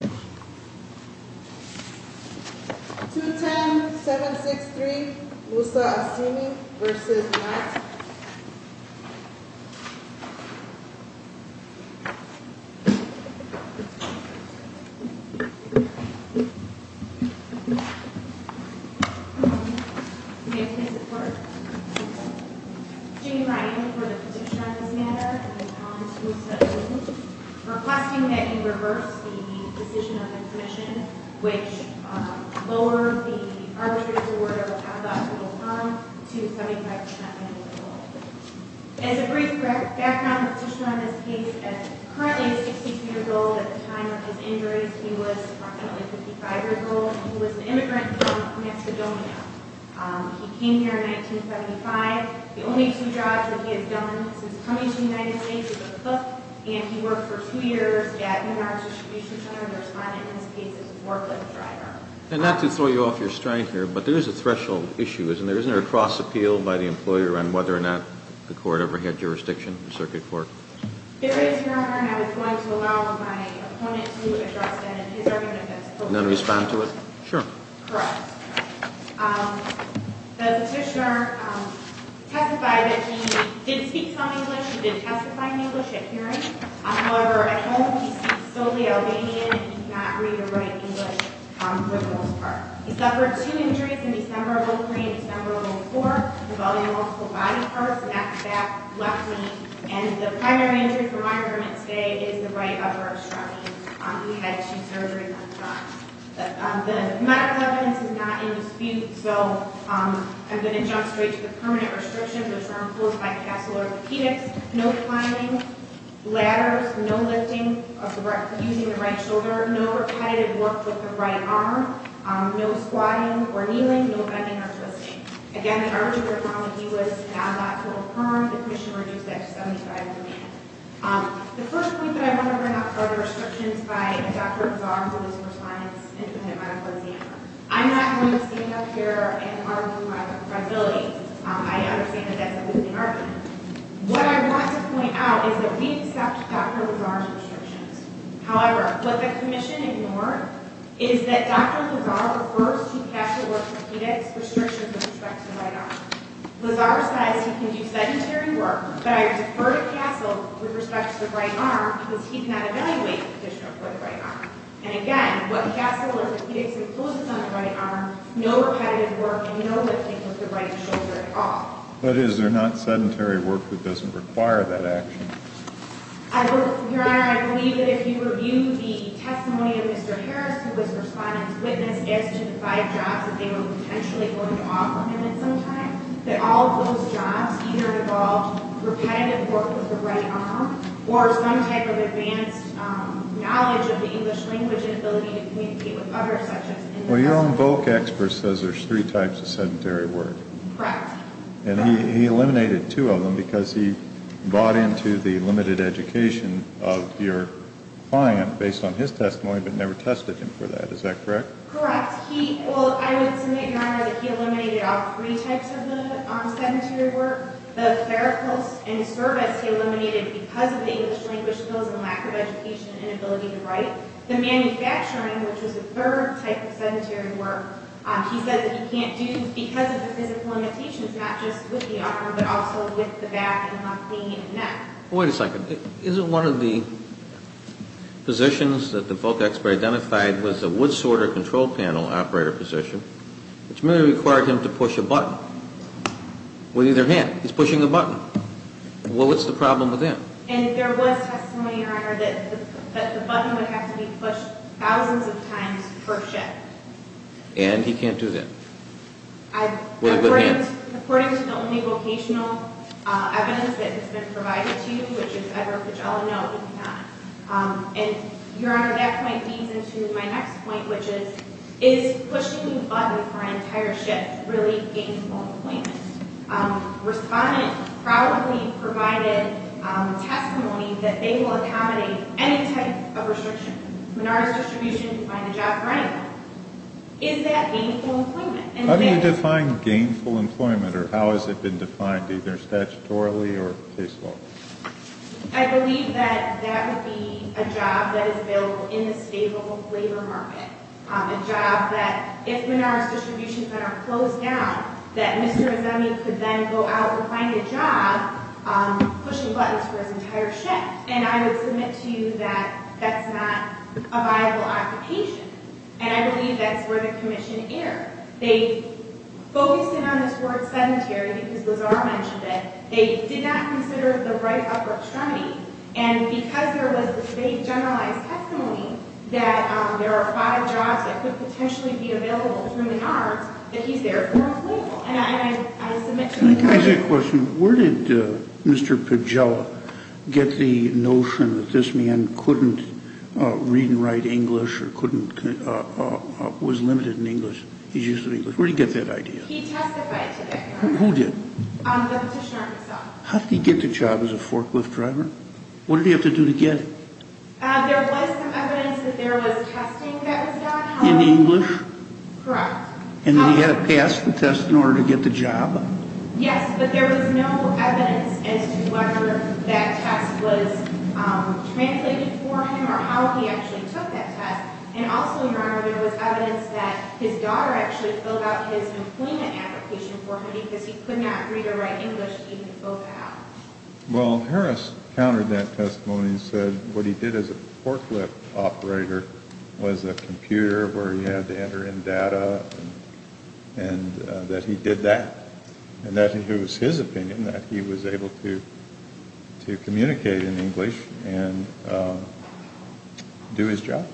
210-763 Musa Azemi v. Yachts May I please have the floor? As a brief background, let's just run this case as currently a 62-year-old. At the time of his injuries, he was approximately 55 years old. He was an immigrant from Macedonia. He came here in 1975. The only two jobs that he has done since coming to the United States is as a cook, and he worked for two years at New York's distribution center. The respondent in this case is a forklift driver. And not to throw you off your stride here, but there is a threshold issue, isn't there? Isn't there a cross-appeal by the employer on whether or not the court ever had jurisdiction in circuit court? There is, Your Honor, and I was going to allow my opponent to address that in his argument. And then respond to it? Sure. Correct. The petitioner testified that he did speak some English. He did testify in English at hearings. However, at home, he speaks solely Albanian and did not read or write in English for the most part. He suffered two injuries in December of 2003 and December of 2004, involving multiple body parts, neck, back, left knee. And the primary injury for my argument today is the right upper extremity. He had two surgeries at the time. The medical evidence is not in dispute, so I'm going to jump straight to the permanent restrictions, which are enclosed by the Castle Orthopedics. No climbing ladders, no lifting using the right shoulder, no repetitive work with the right arm, no squatting or kneeling, no bending or twisting. Again, the argument is that he was not able to perform. The petitioner reduced that to 75 million. The first point that I want to bring up are the restrictions by Dr. Bazar, who is for science, independent medical examiner. I'm not going to stand up here and argue my viability. I understand that that's a moving argument. However, what the commission ignored is that Dr. Bazar refers to Castle Orthopedics' restrictions with respect to the right arm. Bazar says he can do sedentary work, but I defer to Castle with respect to the right arm because he cannot evaluate the petitioner for the right arm. And again, what Castle Orthopedics encloses on the right arm, no repetitive work and no lifting with the right shoulder at all. But is there not sedentary work that doesn't require that action? Your Honor, I believe that if you review the testimony of Mr. Harris, who was the respondent's witness as to the five jobs that they were potentially going to offer him at some time, that all of those jobs either involved repetitive work with the right arm or some type of advanced knowledge of the English language and ability to communicate with others, such as in medicine. Well, your own bulk expert says there's three types of sedentary work. Correct. And he eliminated two of them because he bought into the limited education of your client based on his testimony but never tested him for that. Is that correct? Correct. Well, I would submit, Your Honor, that he eliminated all three types of the sedentary work. The therapists and service he eliminated because of the English language skills and lack of education and inability to write. The manufacturing, which was the third type of sedentary work, he said that he can't do because of the physical limitations, not just with the upper, but also with the back and the neck. Wait a second. Isn't one of the positions that the bulk expert identified was the wood sorter control panel operator position, which merely required him to push a button with either hand? He's pushing a button. Well, what's the problem with that? And there was testimony, Your Honor, that the button would have to be pushed thousands of times per shift. And he can't do that? With a good hand? According to the only vocational evidence that has been provided to you, which is Edward Pichella, no, he cannot. And, Your Honor, that point leads into my next point, which is, is pushing a button for an entire shift really gainful employment? Respondent probably provided testimony that they will accommodate any type of restriction. Menard's Distribution can find a job for anyone. Is that gainful employment? How do you define gainful employment, or how has it been defined, either statutorily or case law? I believe that that would be a job that is available in the stable labor market, a job that, if Menard's Distribution could not close down, that Mr. Azemi could then go out and find a job pushing buttons for his entire shift. And I would submit to you that that's not a viable occupation. And I believe that's where the commission erred. They focused in on this word sedentary because Lazar mentioned it. They did not consider the right upper extremity. And because there was this vague generalized testimony that there are five jobs that could potentially be available for Menard's, that he's there for employment. Can I ask you a question? Where did Mr. Pagela get the notion that this man couldn't read and write English or couldn't, was limited in English? He's used to English. Where did he get that idea? He testified today. Who did? The petitioner himself. How did he get the job as a forklift driver? What did he have to do to get it? There was some evidence that there was testing that was done. In English? Correct. And he had to pass the test in order to get the job? Yes, but there was no evidence as to whether that test was translated for him or how he actually took that test. And also, Your Honor, there was evidence that his daughter actually filled out his employment application for him because he could not read or write English. He had to fill that out. Well, Harris countered that testimony and said what he did as a forklift operator was a computer where he had to enter in data and that he did that. And that it was his opinion that he was able to communicate in English and do his job.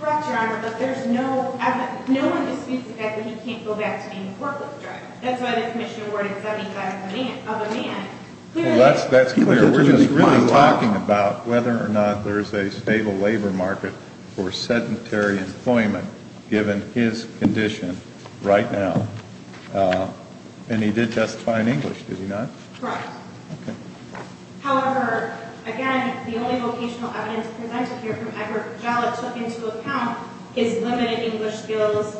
Correct, Your Honor, but there's no evidence. No one disputes the fact that he can't go back to being a forklift driver. That's why the commission awarded 75 of a man. Well, that's clear. We're just really talking about whether or not there's a stable labor market for sedentary employment given his condition right now. And he did testify in English, did he not? Correct. Okay. However, again, the only vocational evidence presented here from Edward Pagella took into account his limited English skills.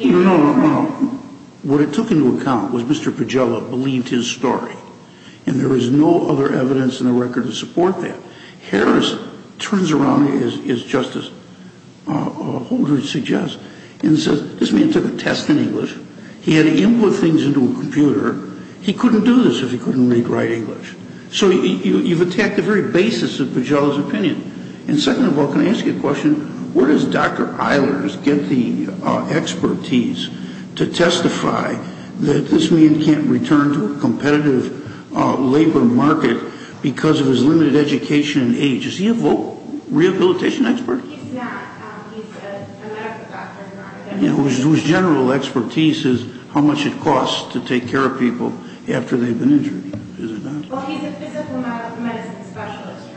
No, no, no. What it took into account was Mr. Pagella believed his story. And there is no other evidence in the record to support that. Harris turns around, as Justice Holdren suggests, and says this man took a test in English. He had to input things into a computer. He couldn't do this if he couldn't read or write English. So you've attacked the very basis of Pagella's opinion. And second of all, can I ask you a question? Where does Dr. Eilers get the expertise to testify that this man can't return to a competitive labor market because of his limited education and age? Is he a rehabilitation expert? He's not. He's a medical doctor. Whose general expertise is how much it costs to take care of people after they've been injured. Is it not? Well, he's a physical medicine specialist.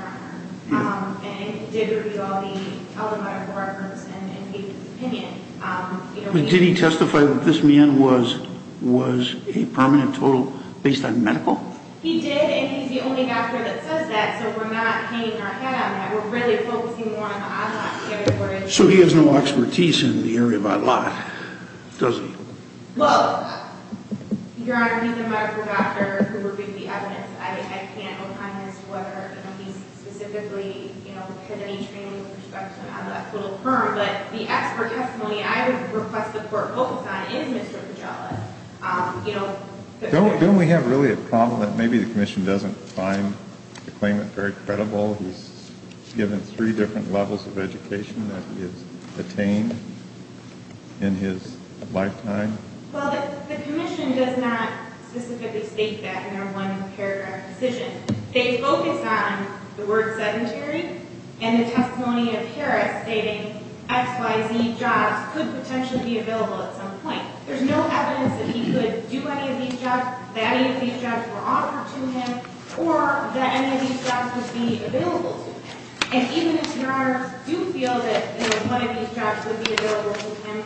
And he did review all the other medical records and gave his opinion. Did he testify that this man was a permanent total based on medical? He did, and he's the only doctor that says that. So we're not hanging our head on that. We're really focusing more on the online territory. So he has no expertise in the area of online, does he? Well, Your Honor, he's a medical doctor who reviewed the evidence. I can't opine as to whether he specifically had any training with respect to an ad lib total firm. But the expert testimony I would request the Court focus on is Mr. Pagella. Don't we have really a problem that maybe the Commission doesn't find the claimant very credible? He's given three different levels of education that he has attained in his lifetime. Well, the Commission does not specifically state that in their one paragraph decision. They focus on the word sedentary and the testimony of Harris stating X, Y, Z jobs could potentially be available at some point. There's no evidence that he could do any of these jobs, that any of these jobs were offered to him, or that any of these jobs would be available to him. And even if Your Honor do feel that one of these jobs would be available to him,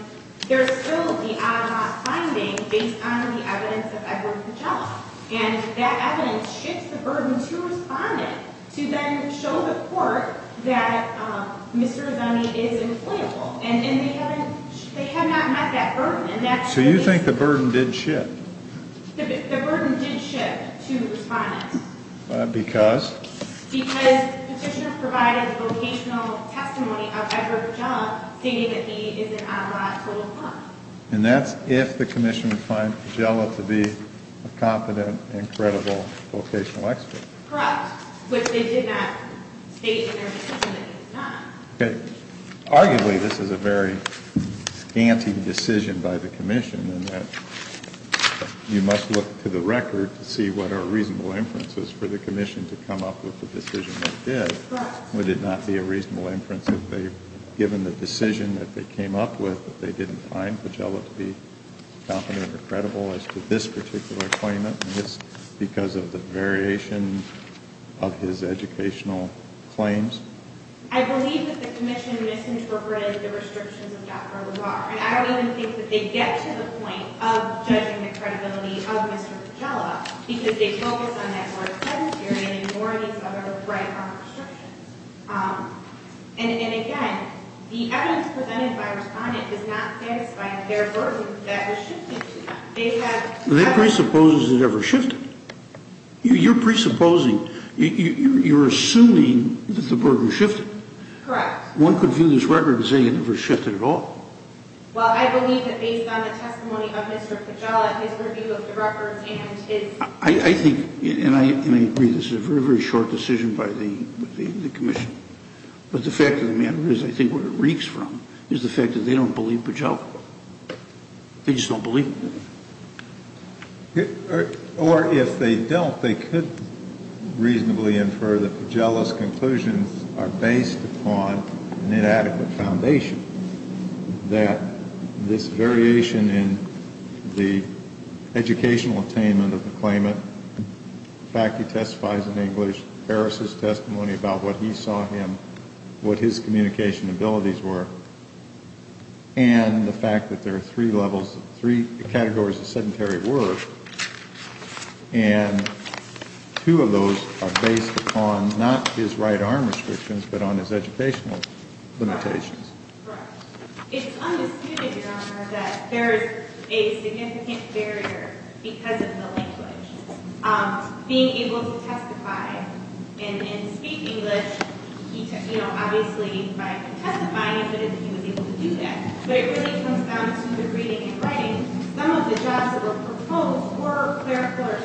there's still the out-of-lock finding based on the evidence of Edward Pagella. And that evidence shifts the burden to Respondent to then show the Court that Mr. Zunni is employable. And they have not met that burden. So you think the burden did shift? The burden did shift to Respondent. Because? Because Petitioner provided a vocational testimony of Edward Pagella stating that he is an out-of-lock total fund. And that's if the Commission finds Pagella to be a competent and credible vocational expert. Correct. But they did not state in their decision that he's not. Okay. Arguably this is a very scanty decision by the Commission in that you must look to the record to see what are reasonable inferences for the Commission to come up with a decision that did. Would it not be a reasonable inference if they, given the decision that they came up with, that they didn't find Pagella to be competent or credible as to this particular claimant, just because of the variation of his educational claims? I believe that the Commission misinterpreted the restrictions of Dr. LaVar. And I don't even think that they get to the point of judging the credibility of Mr. Pagella because they focus on Edward's pedantry and ignore these other right-arm restrictions. And again, the evidence presented by Respondent does not satisfy their burden that was shifted to them. Do they presuppose it ever shifted? You're presupposing. You're assuming that the burden shifted. Correct. One could view this record and say it never shifted at all. Well, I believe that based on the testimony of Mr. Pagella and his review of the records and his ‑‑ I think, and I agree, this is a very, very short decision by the Commission. But the fact of the matter is I think what it reeks from is the fact that they don't believe Pagella. They just don't believe him. Or if they don't, they could reasonably infer that Pagella's conclusions are based upon an inadequate foundation, that this variation in the educational attainment of the claimant, the fact he testifies in English, Harris's testimony about what he saw in him, what his communication abilities were, and the fact that there are three levels, three categories of sedentary work, and two of those are based upon not his right arm restrictions but on his educational limitations. Correct. It's undisputed, Your Honor, that there is a significant barrier because of the language. Being able to testify and speak English, you know, obviously by testifying he was able to do that. But it really comes down to the reading and writing. Some of the jobs that were proposed were clerical or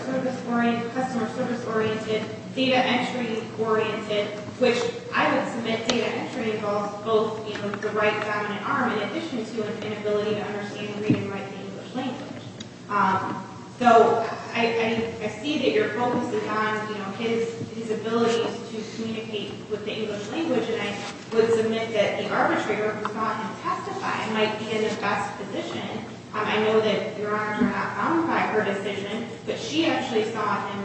customer service oriented, data entry oriented, which I would submit data entry involves both the right dominant arm in addition to an inability to understand and read and write the English language. So I see that your focus is on his ability to communicate with the English language, and I would submit that the arbitrator who saw him testify might be in the best position. I know that Your Honor did not comment on her decision, but she actually saw him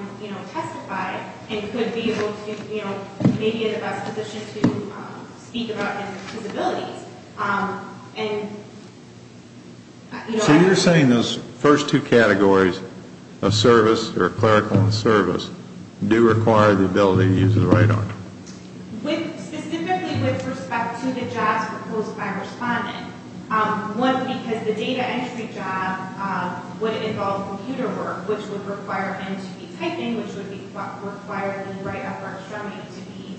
testify and could be able to, you know, maybe in the best position to speak about his abilities. So you're saying those first two categories of service or clerical and service do require the ability to use the right arm? Specifically with respect to the jobs proposed by respondent. One, because the data entry job would involve computer work, which would require him to be typing, which would require the right upper extremity to be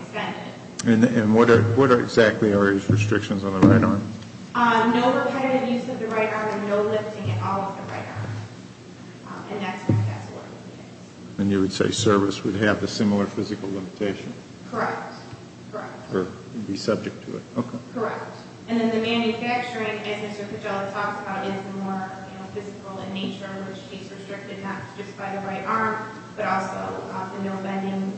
extended. And what exactly are his restrictions on the right arm? No repetitive use of the right arm and no lifting at all of the right arm. And you would say service would have a similar physical limitation. Correct. Or be subject to it. Correct. And then the manufacturing, as Mr. Pagella talks about, is more physical in nature, which is restricted not just by the right arm, but also the no bending,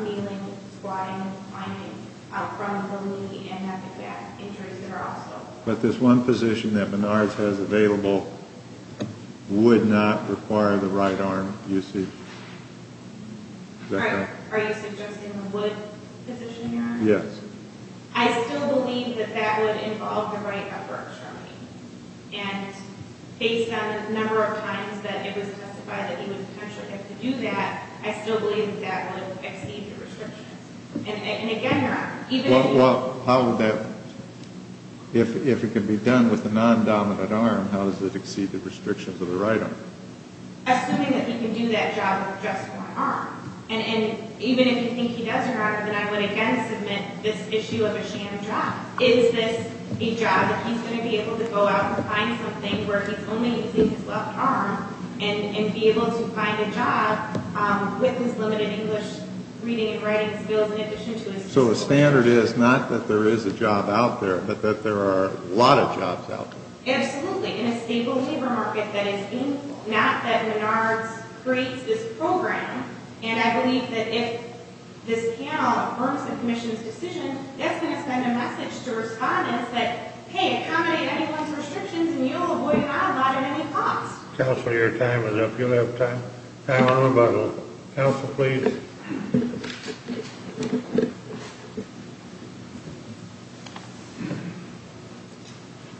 kneeling, squatting, finding out front of the knee and having back injuries there also. But this one position that Menard's has available would not require the right arm, you see. Correct. Are you suggesting the wood position, Your Honor? Yes. I still believe that that would involve the right upper extremity. And based on the number of times that it was testified that he would potentially have to do that, I still believe that that would exceed the restrictions. And again, Your Honor, even if he... Well, how would that... If it can be done with the non-dominant arm, how does it exceed the restrictions of the right arm? Assuming that he can do that job with just one arm. And even if you think he does, Your Honor, then I would again submit this issue of a sham job. Is this a job that he's going to be able to go out and find something where he can only use his left arm and be able to find a job with his limited English reading and writing skills in addition to his... So the standard is not that there is a job out there, but that there are a lot of jobs out there. Absolutely. In a stable labor market that is... Not that Menards creates this program. And I believe that if this panel affirms the commission's decision, it's going to send a message to respondents that, hey, accommodate anyone's restrictions and you'll avoid an outlaw at any cost. Counselor, your time is up. You'll have time. Time on the button. Counsel, please. Thank you, Your Honor.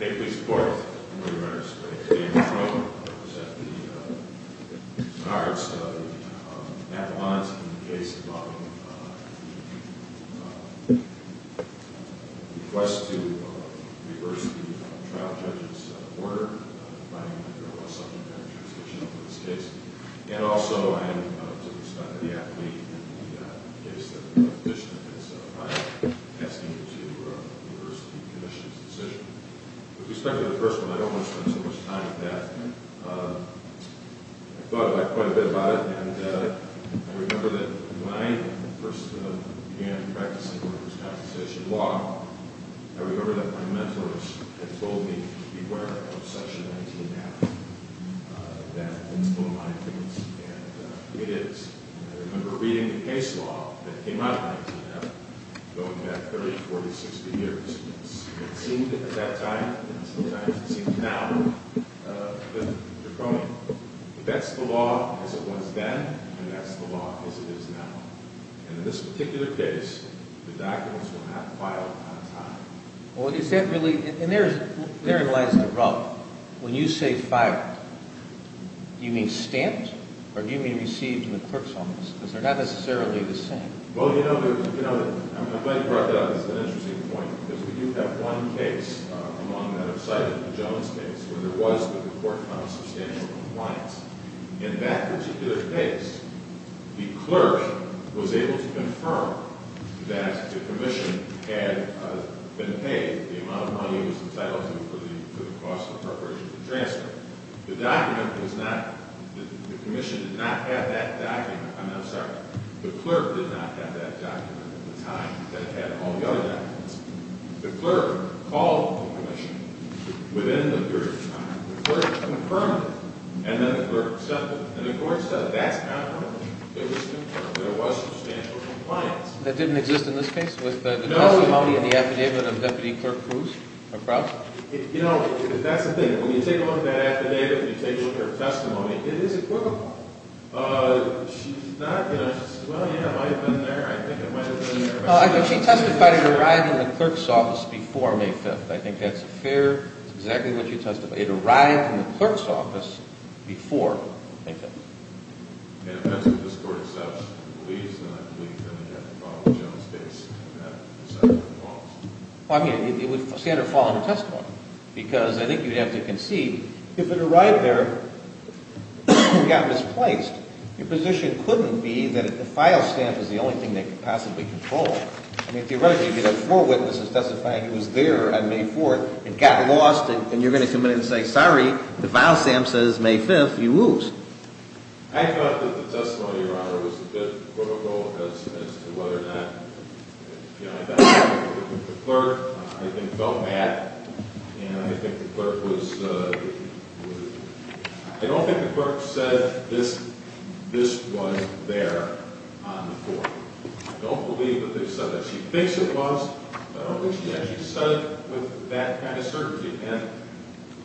May it please the Court. I'm William Menards. Today in this room I present the cards of an affidavit in the case involving a request to reverse the trial judge's order and also I am to respect the athlete in the case that the petitioner has filed asking you to reverse the commission's decision. With respect to the first one, I don't want to spend so much time on that. I thought about it quite a bit about it, and I remember that when I first began practicing workers' compensation law, I remember that my mentors had told me to beware of Section 19-F, that it's full of lying things, and it is. And I remember reading the case law that came out of 19-F going back 30, 40, 60 years, and it seemed at that time, and sometimes it seems now, that you're wrong. But that's the law as it was then, and that's the law as it is now. And in this particular case, the documents were not filed on time. Well, is that really – and therein lies the problem. When you say filed, do you mean stamped, or do you mean received in the clerk's office? Because they're not necessarily the same. Well, you know, I'm glad you brought that up. It's an interesting point, because we do have one case among that I've cited, the Jones case, where there was the report on substantial compliance. In that particular case, the clerk was able to confirm that the commission had been paid the amount of money it was entitled to for the cost of appropriations and transfer. The document was not – the commission did not have that document. I'm sorry. The clerk did not have that document at the time that it had all the other documents. The clerk called the commission within the period of time. The clerk confirmed it, and then the clerk accepted it. And the court said that's how it happened, that there was substantial compliance. That didn't exist in this case with the testimony and the affidavit of Deputy Clerk Bruce? You know, that's the thing. When you take a look at that affidavit and you take a look at her testimony, it is equivocal. She's not going to say, well, yeah, it might have been there. I think it might have been there. She testified it arrived in the clerk's office before May 5th. I think that's fair. It's exactly what you testified. It arrived in the clerk's office before May 5th. And if that's what this court accepts and believes, then I believe then you have to follow the general state's standard of law. Well, I mean, it would stand or fall in the testimony because I think you'd have to concede. If it arrived there and got misplaced, your position couldn't be that the file stamp is the only thing they could possibly control. I mean, theoretically, you could have four witnesses testifying it was there on May 4th. It got lost, and you're going to come in and say, sorry, the file stamp says May 5th. You lose. I thought that the testimony, Your Honor, was a bit equivocal as to whether or not, you know, I think the clerk felt that, and I think the clerk was, I don't think the clerk said this was there on the court. I don't believe that they said that. I don't think she actually said it with that kind of certainty. And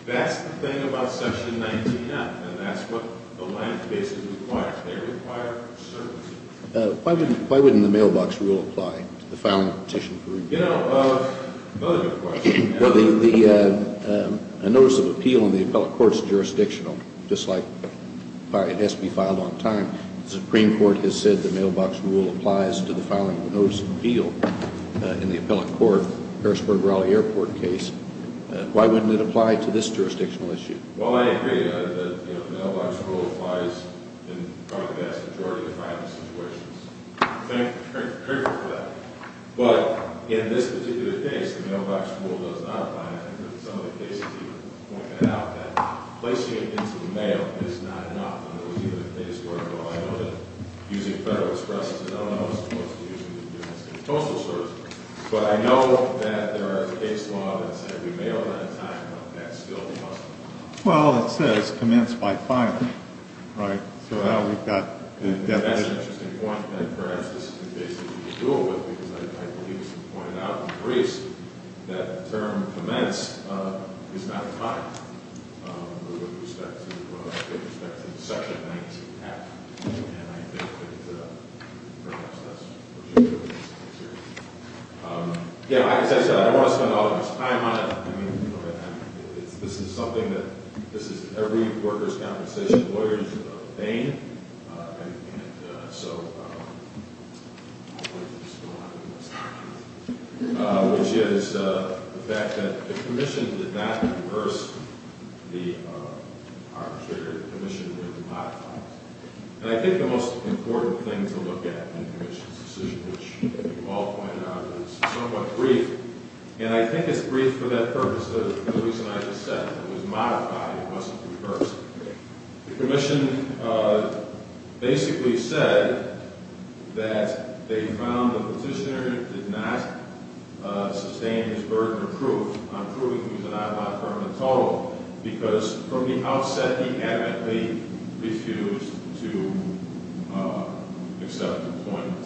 that's the thing about Section 19F, and that's what the line of basis requires. They require certainty. Why wouldn't the mailbox rule apply to the filing of a petition for review? You know, another good question. Well, the notice of appeal in the appellate court's jurisdictional, just like it has to be filed on time, the Supreme Court has said the mailbox rule applies to the filing of a notice of appeal in the appellate court Harrisburg-Raleigh Airport case. Why wouldn't it apply to this jurisdictional issue? Well, I agree that the mailbox rule applies in probably the vast majority of filing situations. Thank you. I'm grateful for that. But in this particular case, the mailbox rule does not apply. I think that some of the cases even point that out, that placing it into the mail is not enough. I know that using Federal Express is a no-no as opposed to using the U.S. Postal Service. But I know that there are case laws that say we mail it on time, but that's still a must. Well, it says commence by filing, right? So now we've got the definition. That's an interesting point. And perhaps this is the case that people deal with, because I believe as you pointed out in the briefs, that the term commence is not applied with respect to Section 19-F. And I think that perhaps that's what you're dealing with. As I said, I don't want to spend all of this time on it. I mean, this is something that every workers' compensation lawyer is famed. And so, which is the fact that the commission did not reverse the arbitrator. The commission modified it. And I think the most important thing to look at in the commission's decision, which you all pointed out, is somewhat brief. And I think it's brief for that purpose, the reason I just said. It was modified. It wasn't reversed. The commission basically said that they found the petitioner did not sustain his burden of proof on proving he was an iPod firm at all, because from the outset, he adamantly refused to accept employment.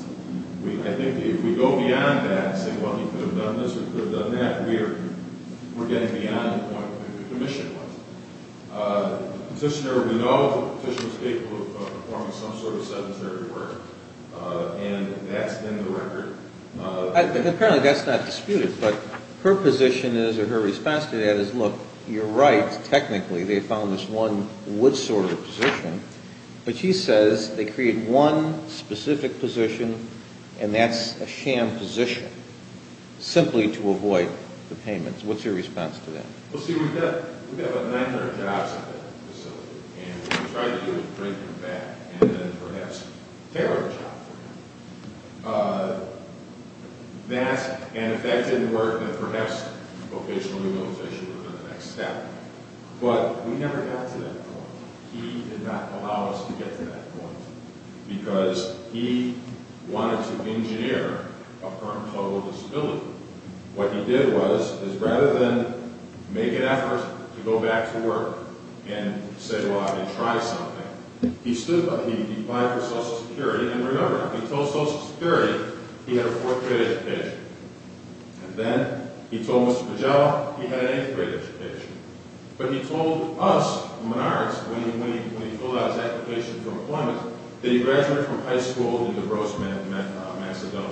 I think if we go beyond that and say, well, he could have done this or he could have done that, we're getting beyond the point where the commission was. The petitioner, we know, the petitioner was capable of performing some sort of sedentary work. And that's been the record. Apparently, that's not disputed. But her position is, or her response to that is, look, you're right. Technically, they found this one wood-sorter position. But she says they created one specific position, and that's a sham position, simply to avoid the payments. What's your response to that? Well, see, we've got about 900 jobs at that facility. And if we try to deal with drinking bad and then perhaps terrorism, and if that didn't work, then perhaps vocational rehabilitation would be the next step. But we never got to that point. He did not allow us to get to that point, because he wanted to engineer a firm called Will Disability. What he did was, is rather than make an effort to go back to work and say, well, I'm going to try something, he stood by it. He applied for Social Security. And remember, he told Social Security he had a fourth-grade education. And then he told Mr. Pagel he had an eighth-grade education. But he told us, the Menards, when he filled out his application for employment, that he graduated from high school in DeVros, Macedonia.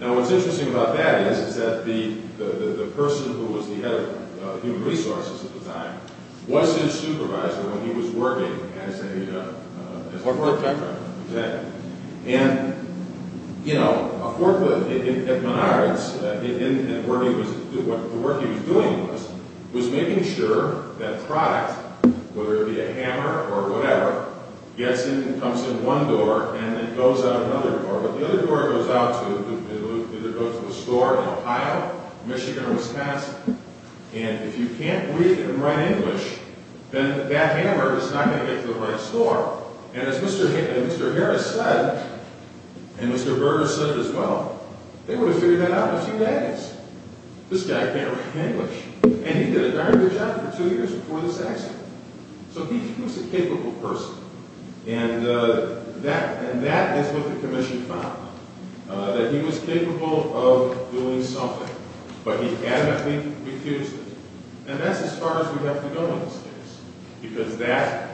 Now, what's interesting about that is that the person who was the head of human resources at the time was his supervisor when he was working as a corporate contractor. And, you know, of course, at Menards, the work he was doing was making sure that product, whether it be a hammer or whatever, comes in one door and then goes out another door. But the other door goes out to either go to a store in Ohio, Michigan, or Wisconsin. And if you can't read and write English, then that hammer is not going to get to the right store. And as Mr. Harris said, and Mr. Berger said as well, they would have figured that out in a few days. This guy can't write English. And he did a darn good job for two years before this accident. So he was a capable person. And that is what the commission found, that he was capable of doing something. But he adamantly refused it. And that's as far as we have to go in this case. Because that,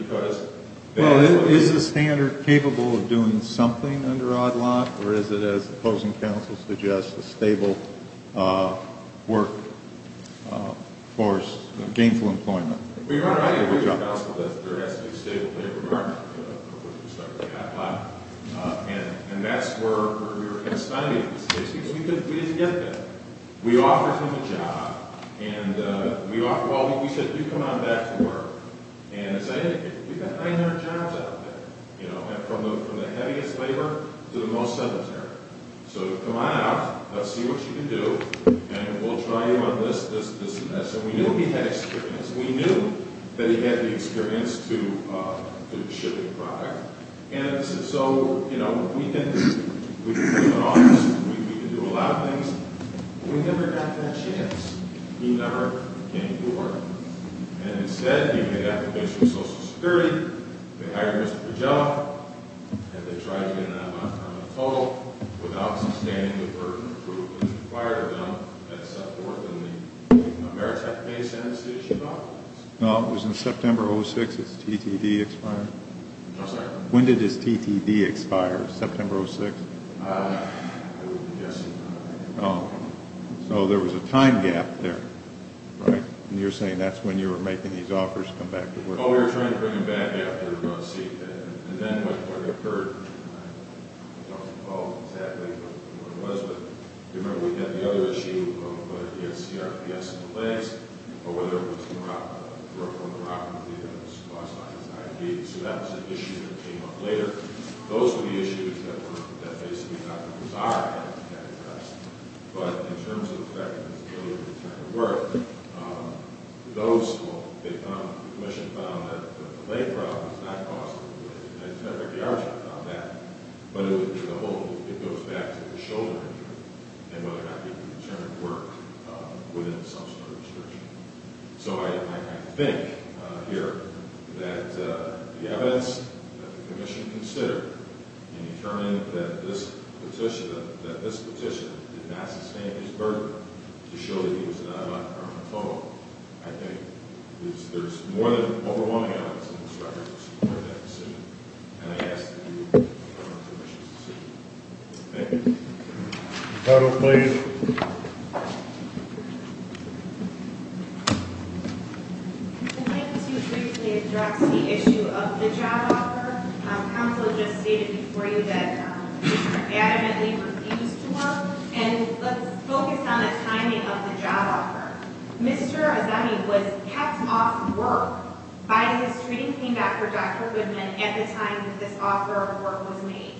because... Well, is the standard capable of doing something under ODLOC, or is it, as the opposing counsel suggests, a stable work force, gainful employment? Well, Your Honor, I agree with your counsel that there has to be a stable labor market. And that's where we were going to study this case. Because we didn't get that. We offered him a job. And we said, well, you come on back to work. And as I indicated, we've got 900 jobs out there, you know, from the heaviest labor to the most sedentary. So come on out. Let's see what you can do. And we'll try you on this. And we knew he had experience. We knew that he had the experience to ship the product. And so, you know, we can do a lot of things. But we never got that chance. He never came forward. And instead, he made an application to Social Security. They hired him for the job. And they tried him on a total without sustaining the burden of approval. When was the fire done at September 4th in the Maritime Basin? No, it was in September 06. It's TTD expired. I'm sorry? When did his TTD expire? September 06? I don't know. I would be guessing. Oh. So there was a time gap there. Right? And you're saying that's when you were making these offers to come back to work. Oh, we were trying to bring him back. Yeah. We were going to see. And then what occurred, I don't recall exactly what it was. But, remember, we had the other issue of whether he had CRPS in the legs or whether it was rupture of the rock in the feet that was caused by his IED. So that was an issue that came up later. Those were the issues that basically got the desire to have him get addressed. But in terms of the fact that he was willing to return to work, the commission found that the leg problem is not caused by the leg. But it goes back to the shoulder injury and whether or not he could return to work within some sort of restriction. So I think here that the evidence that the commission considered in determining that this petition did not sustain his burden to show that he was not on the phone, I think there's more than overwhelming evidence in this record to support that decision. And I ask that you allow the commission to see it. Thank you. I'd like to briefly address the issue of the job offer. Counsel just stated before you that he adamantly refused to work. And let's focus on the timing of the job offer. Mr. Azami was kept off work by his treating team doctor, Dr. Goodman, at the time that this offer of work was made.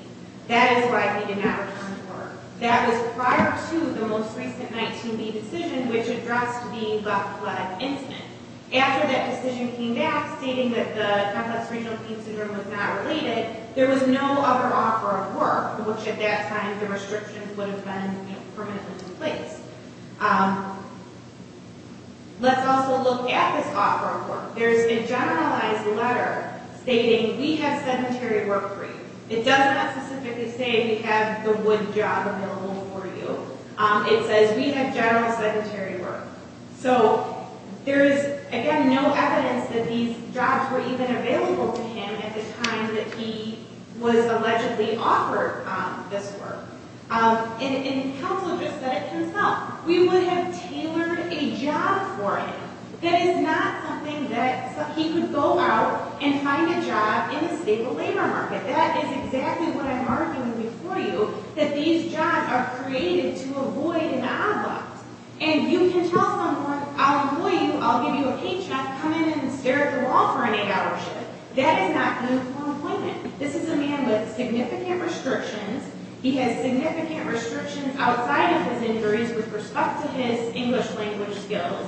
That is why he did not return to work. That was prior to the most recent 19B decision, which addressed the left leg incident. After that decision came back stating that the complex renal pain syndrome was not related, there was no other offer of work, which at that time the restrictions would have been permanently in place. Let's also look at this offer of work. There's a generalized letter stating we have sedentary work for you. It does not specifically say we have the wood job available for you. It says we have general sedentary work. So there is, again, no evidence that these jobs were even available to him at the time that he was allegedly offered this work. And counsel just said it himself. We would have tailored a job for him. That is not something that he could go out and find a job in the state labor market. That is exactly what I'm arguing before you, that these jobs are created to avoid an outlook. And you can tell someone, I'll employ you, I'll give you a paycheck, come in and stare at the wall for an eight-hour shift. That is not uniform employment. This is a man with significant restrictions. He has significant restrictions outside of his injuries with respect to his English language skills,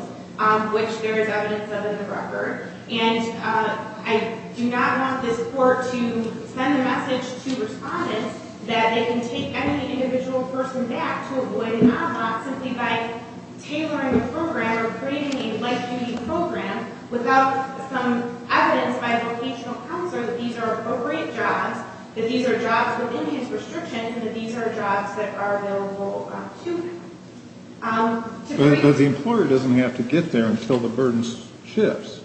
which there is evidence of in the record. And I do not want this court to send a message to respondents that they can take any individual person back to avoid an outlook simply by tailoring a program or creating a light-duty program without some evidence by a vocational counselor that these are appropriate jobs, that these are jobs within his restrictions, and that these are jobs that are available to him. But the employer doesn't have to get there until the burden shifts.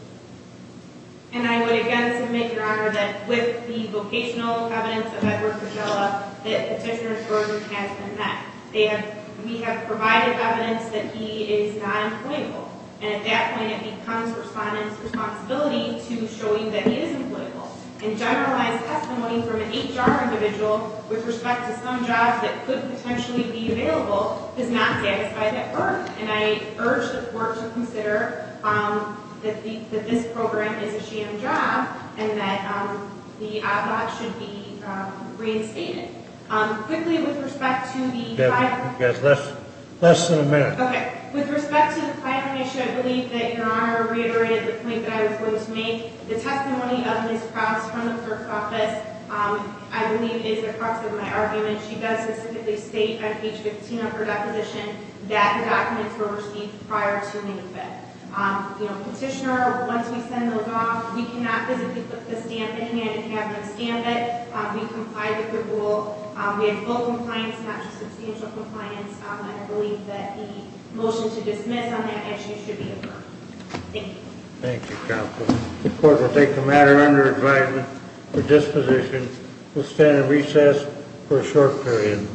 And I would again submit, Your Honor, that with the vocational evidence of Edward Cogella, that Petitioner's burden has been met. We have provided evidence that he is not employable. And at that point, it becomes respondents' responsibility to show you that he is employable. And generalized testimony from an eight-hour individual with respect to some jobs that could potentially be available is not satisfied at birth. And I urge the court to consider that this program is a sham job and that the ad hoc should be reinstated. Quickly, with respect to the final issue, I believe that Your Honor reiterated the point that I was going to make. The testimony of Ms. Krause from the clerk's office, I believe, is the crux of my argument. She does specifically state on page 15 of her deposition that the documents were received prior to May 5th. You know, Petitioner, once we send those off, we cannot physically put the stamp in hand and have them stamp it. We complied with the rule. We have full compliance, not just substantial compliance. I believe that the motion to dismiss on that issue should be adjourned. Thank you. Thank you, counsel. The court will take the matter under advisement for disposition. We'll stand in recess for a short period.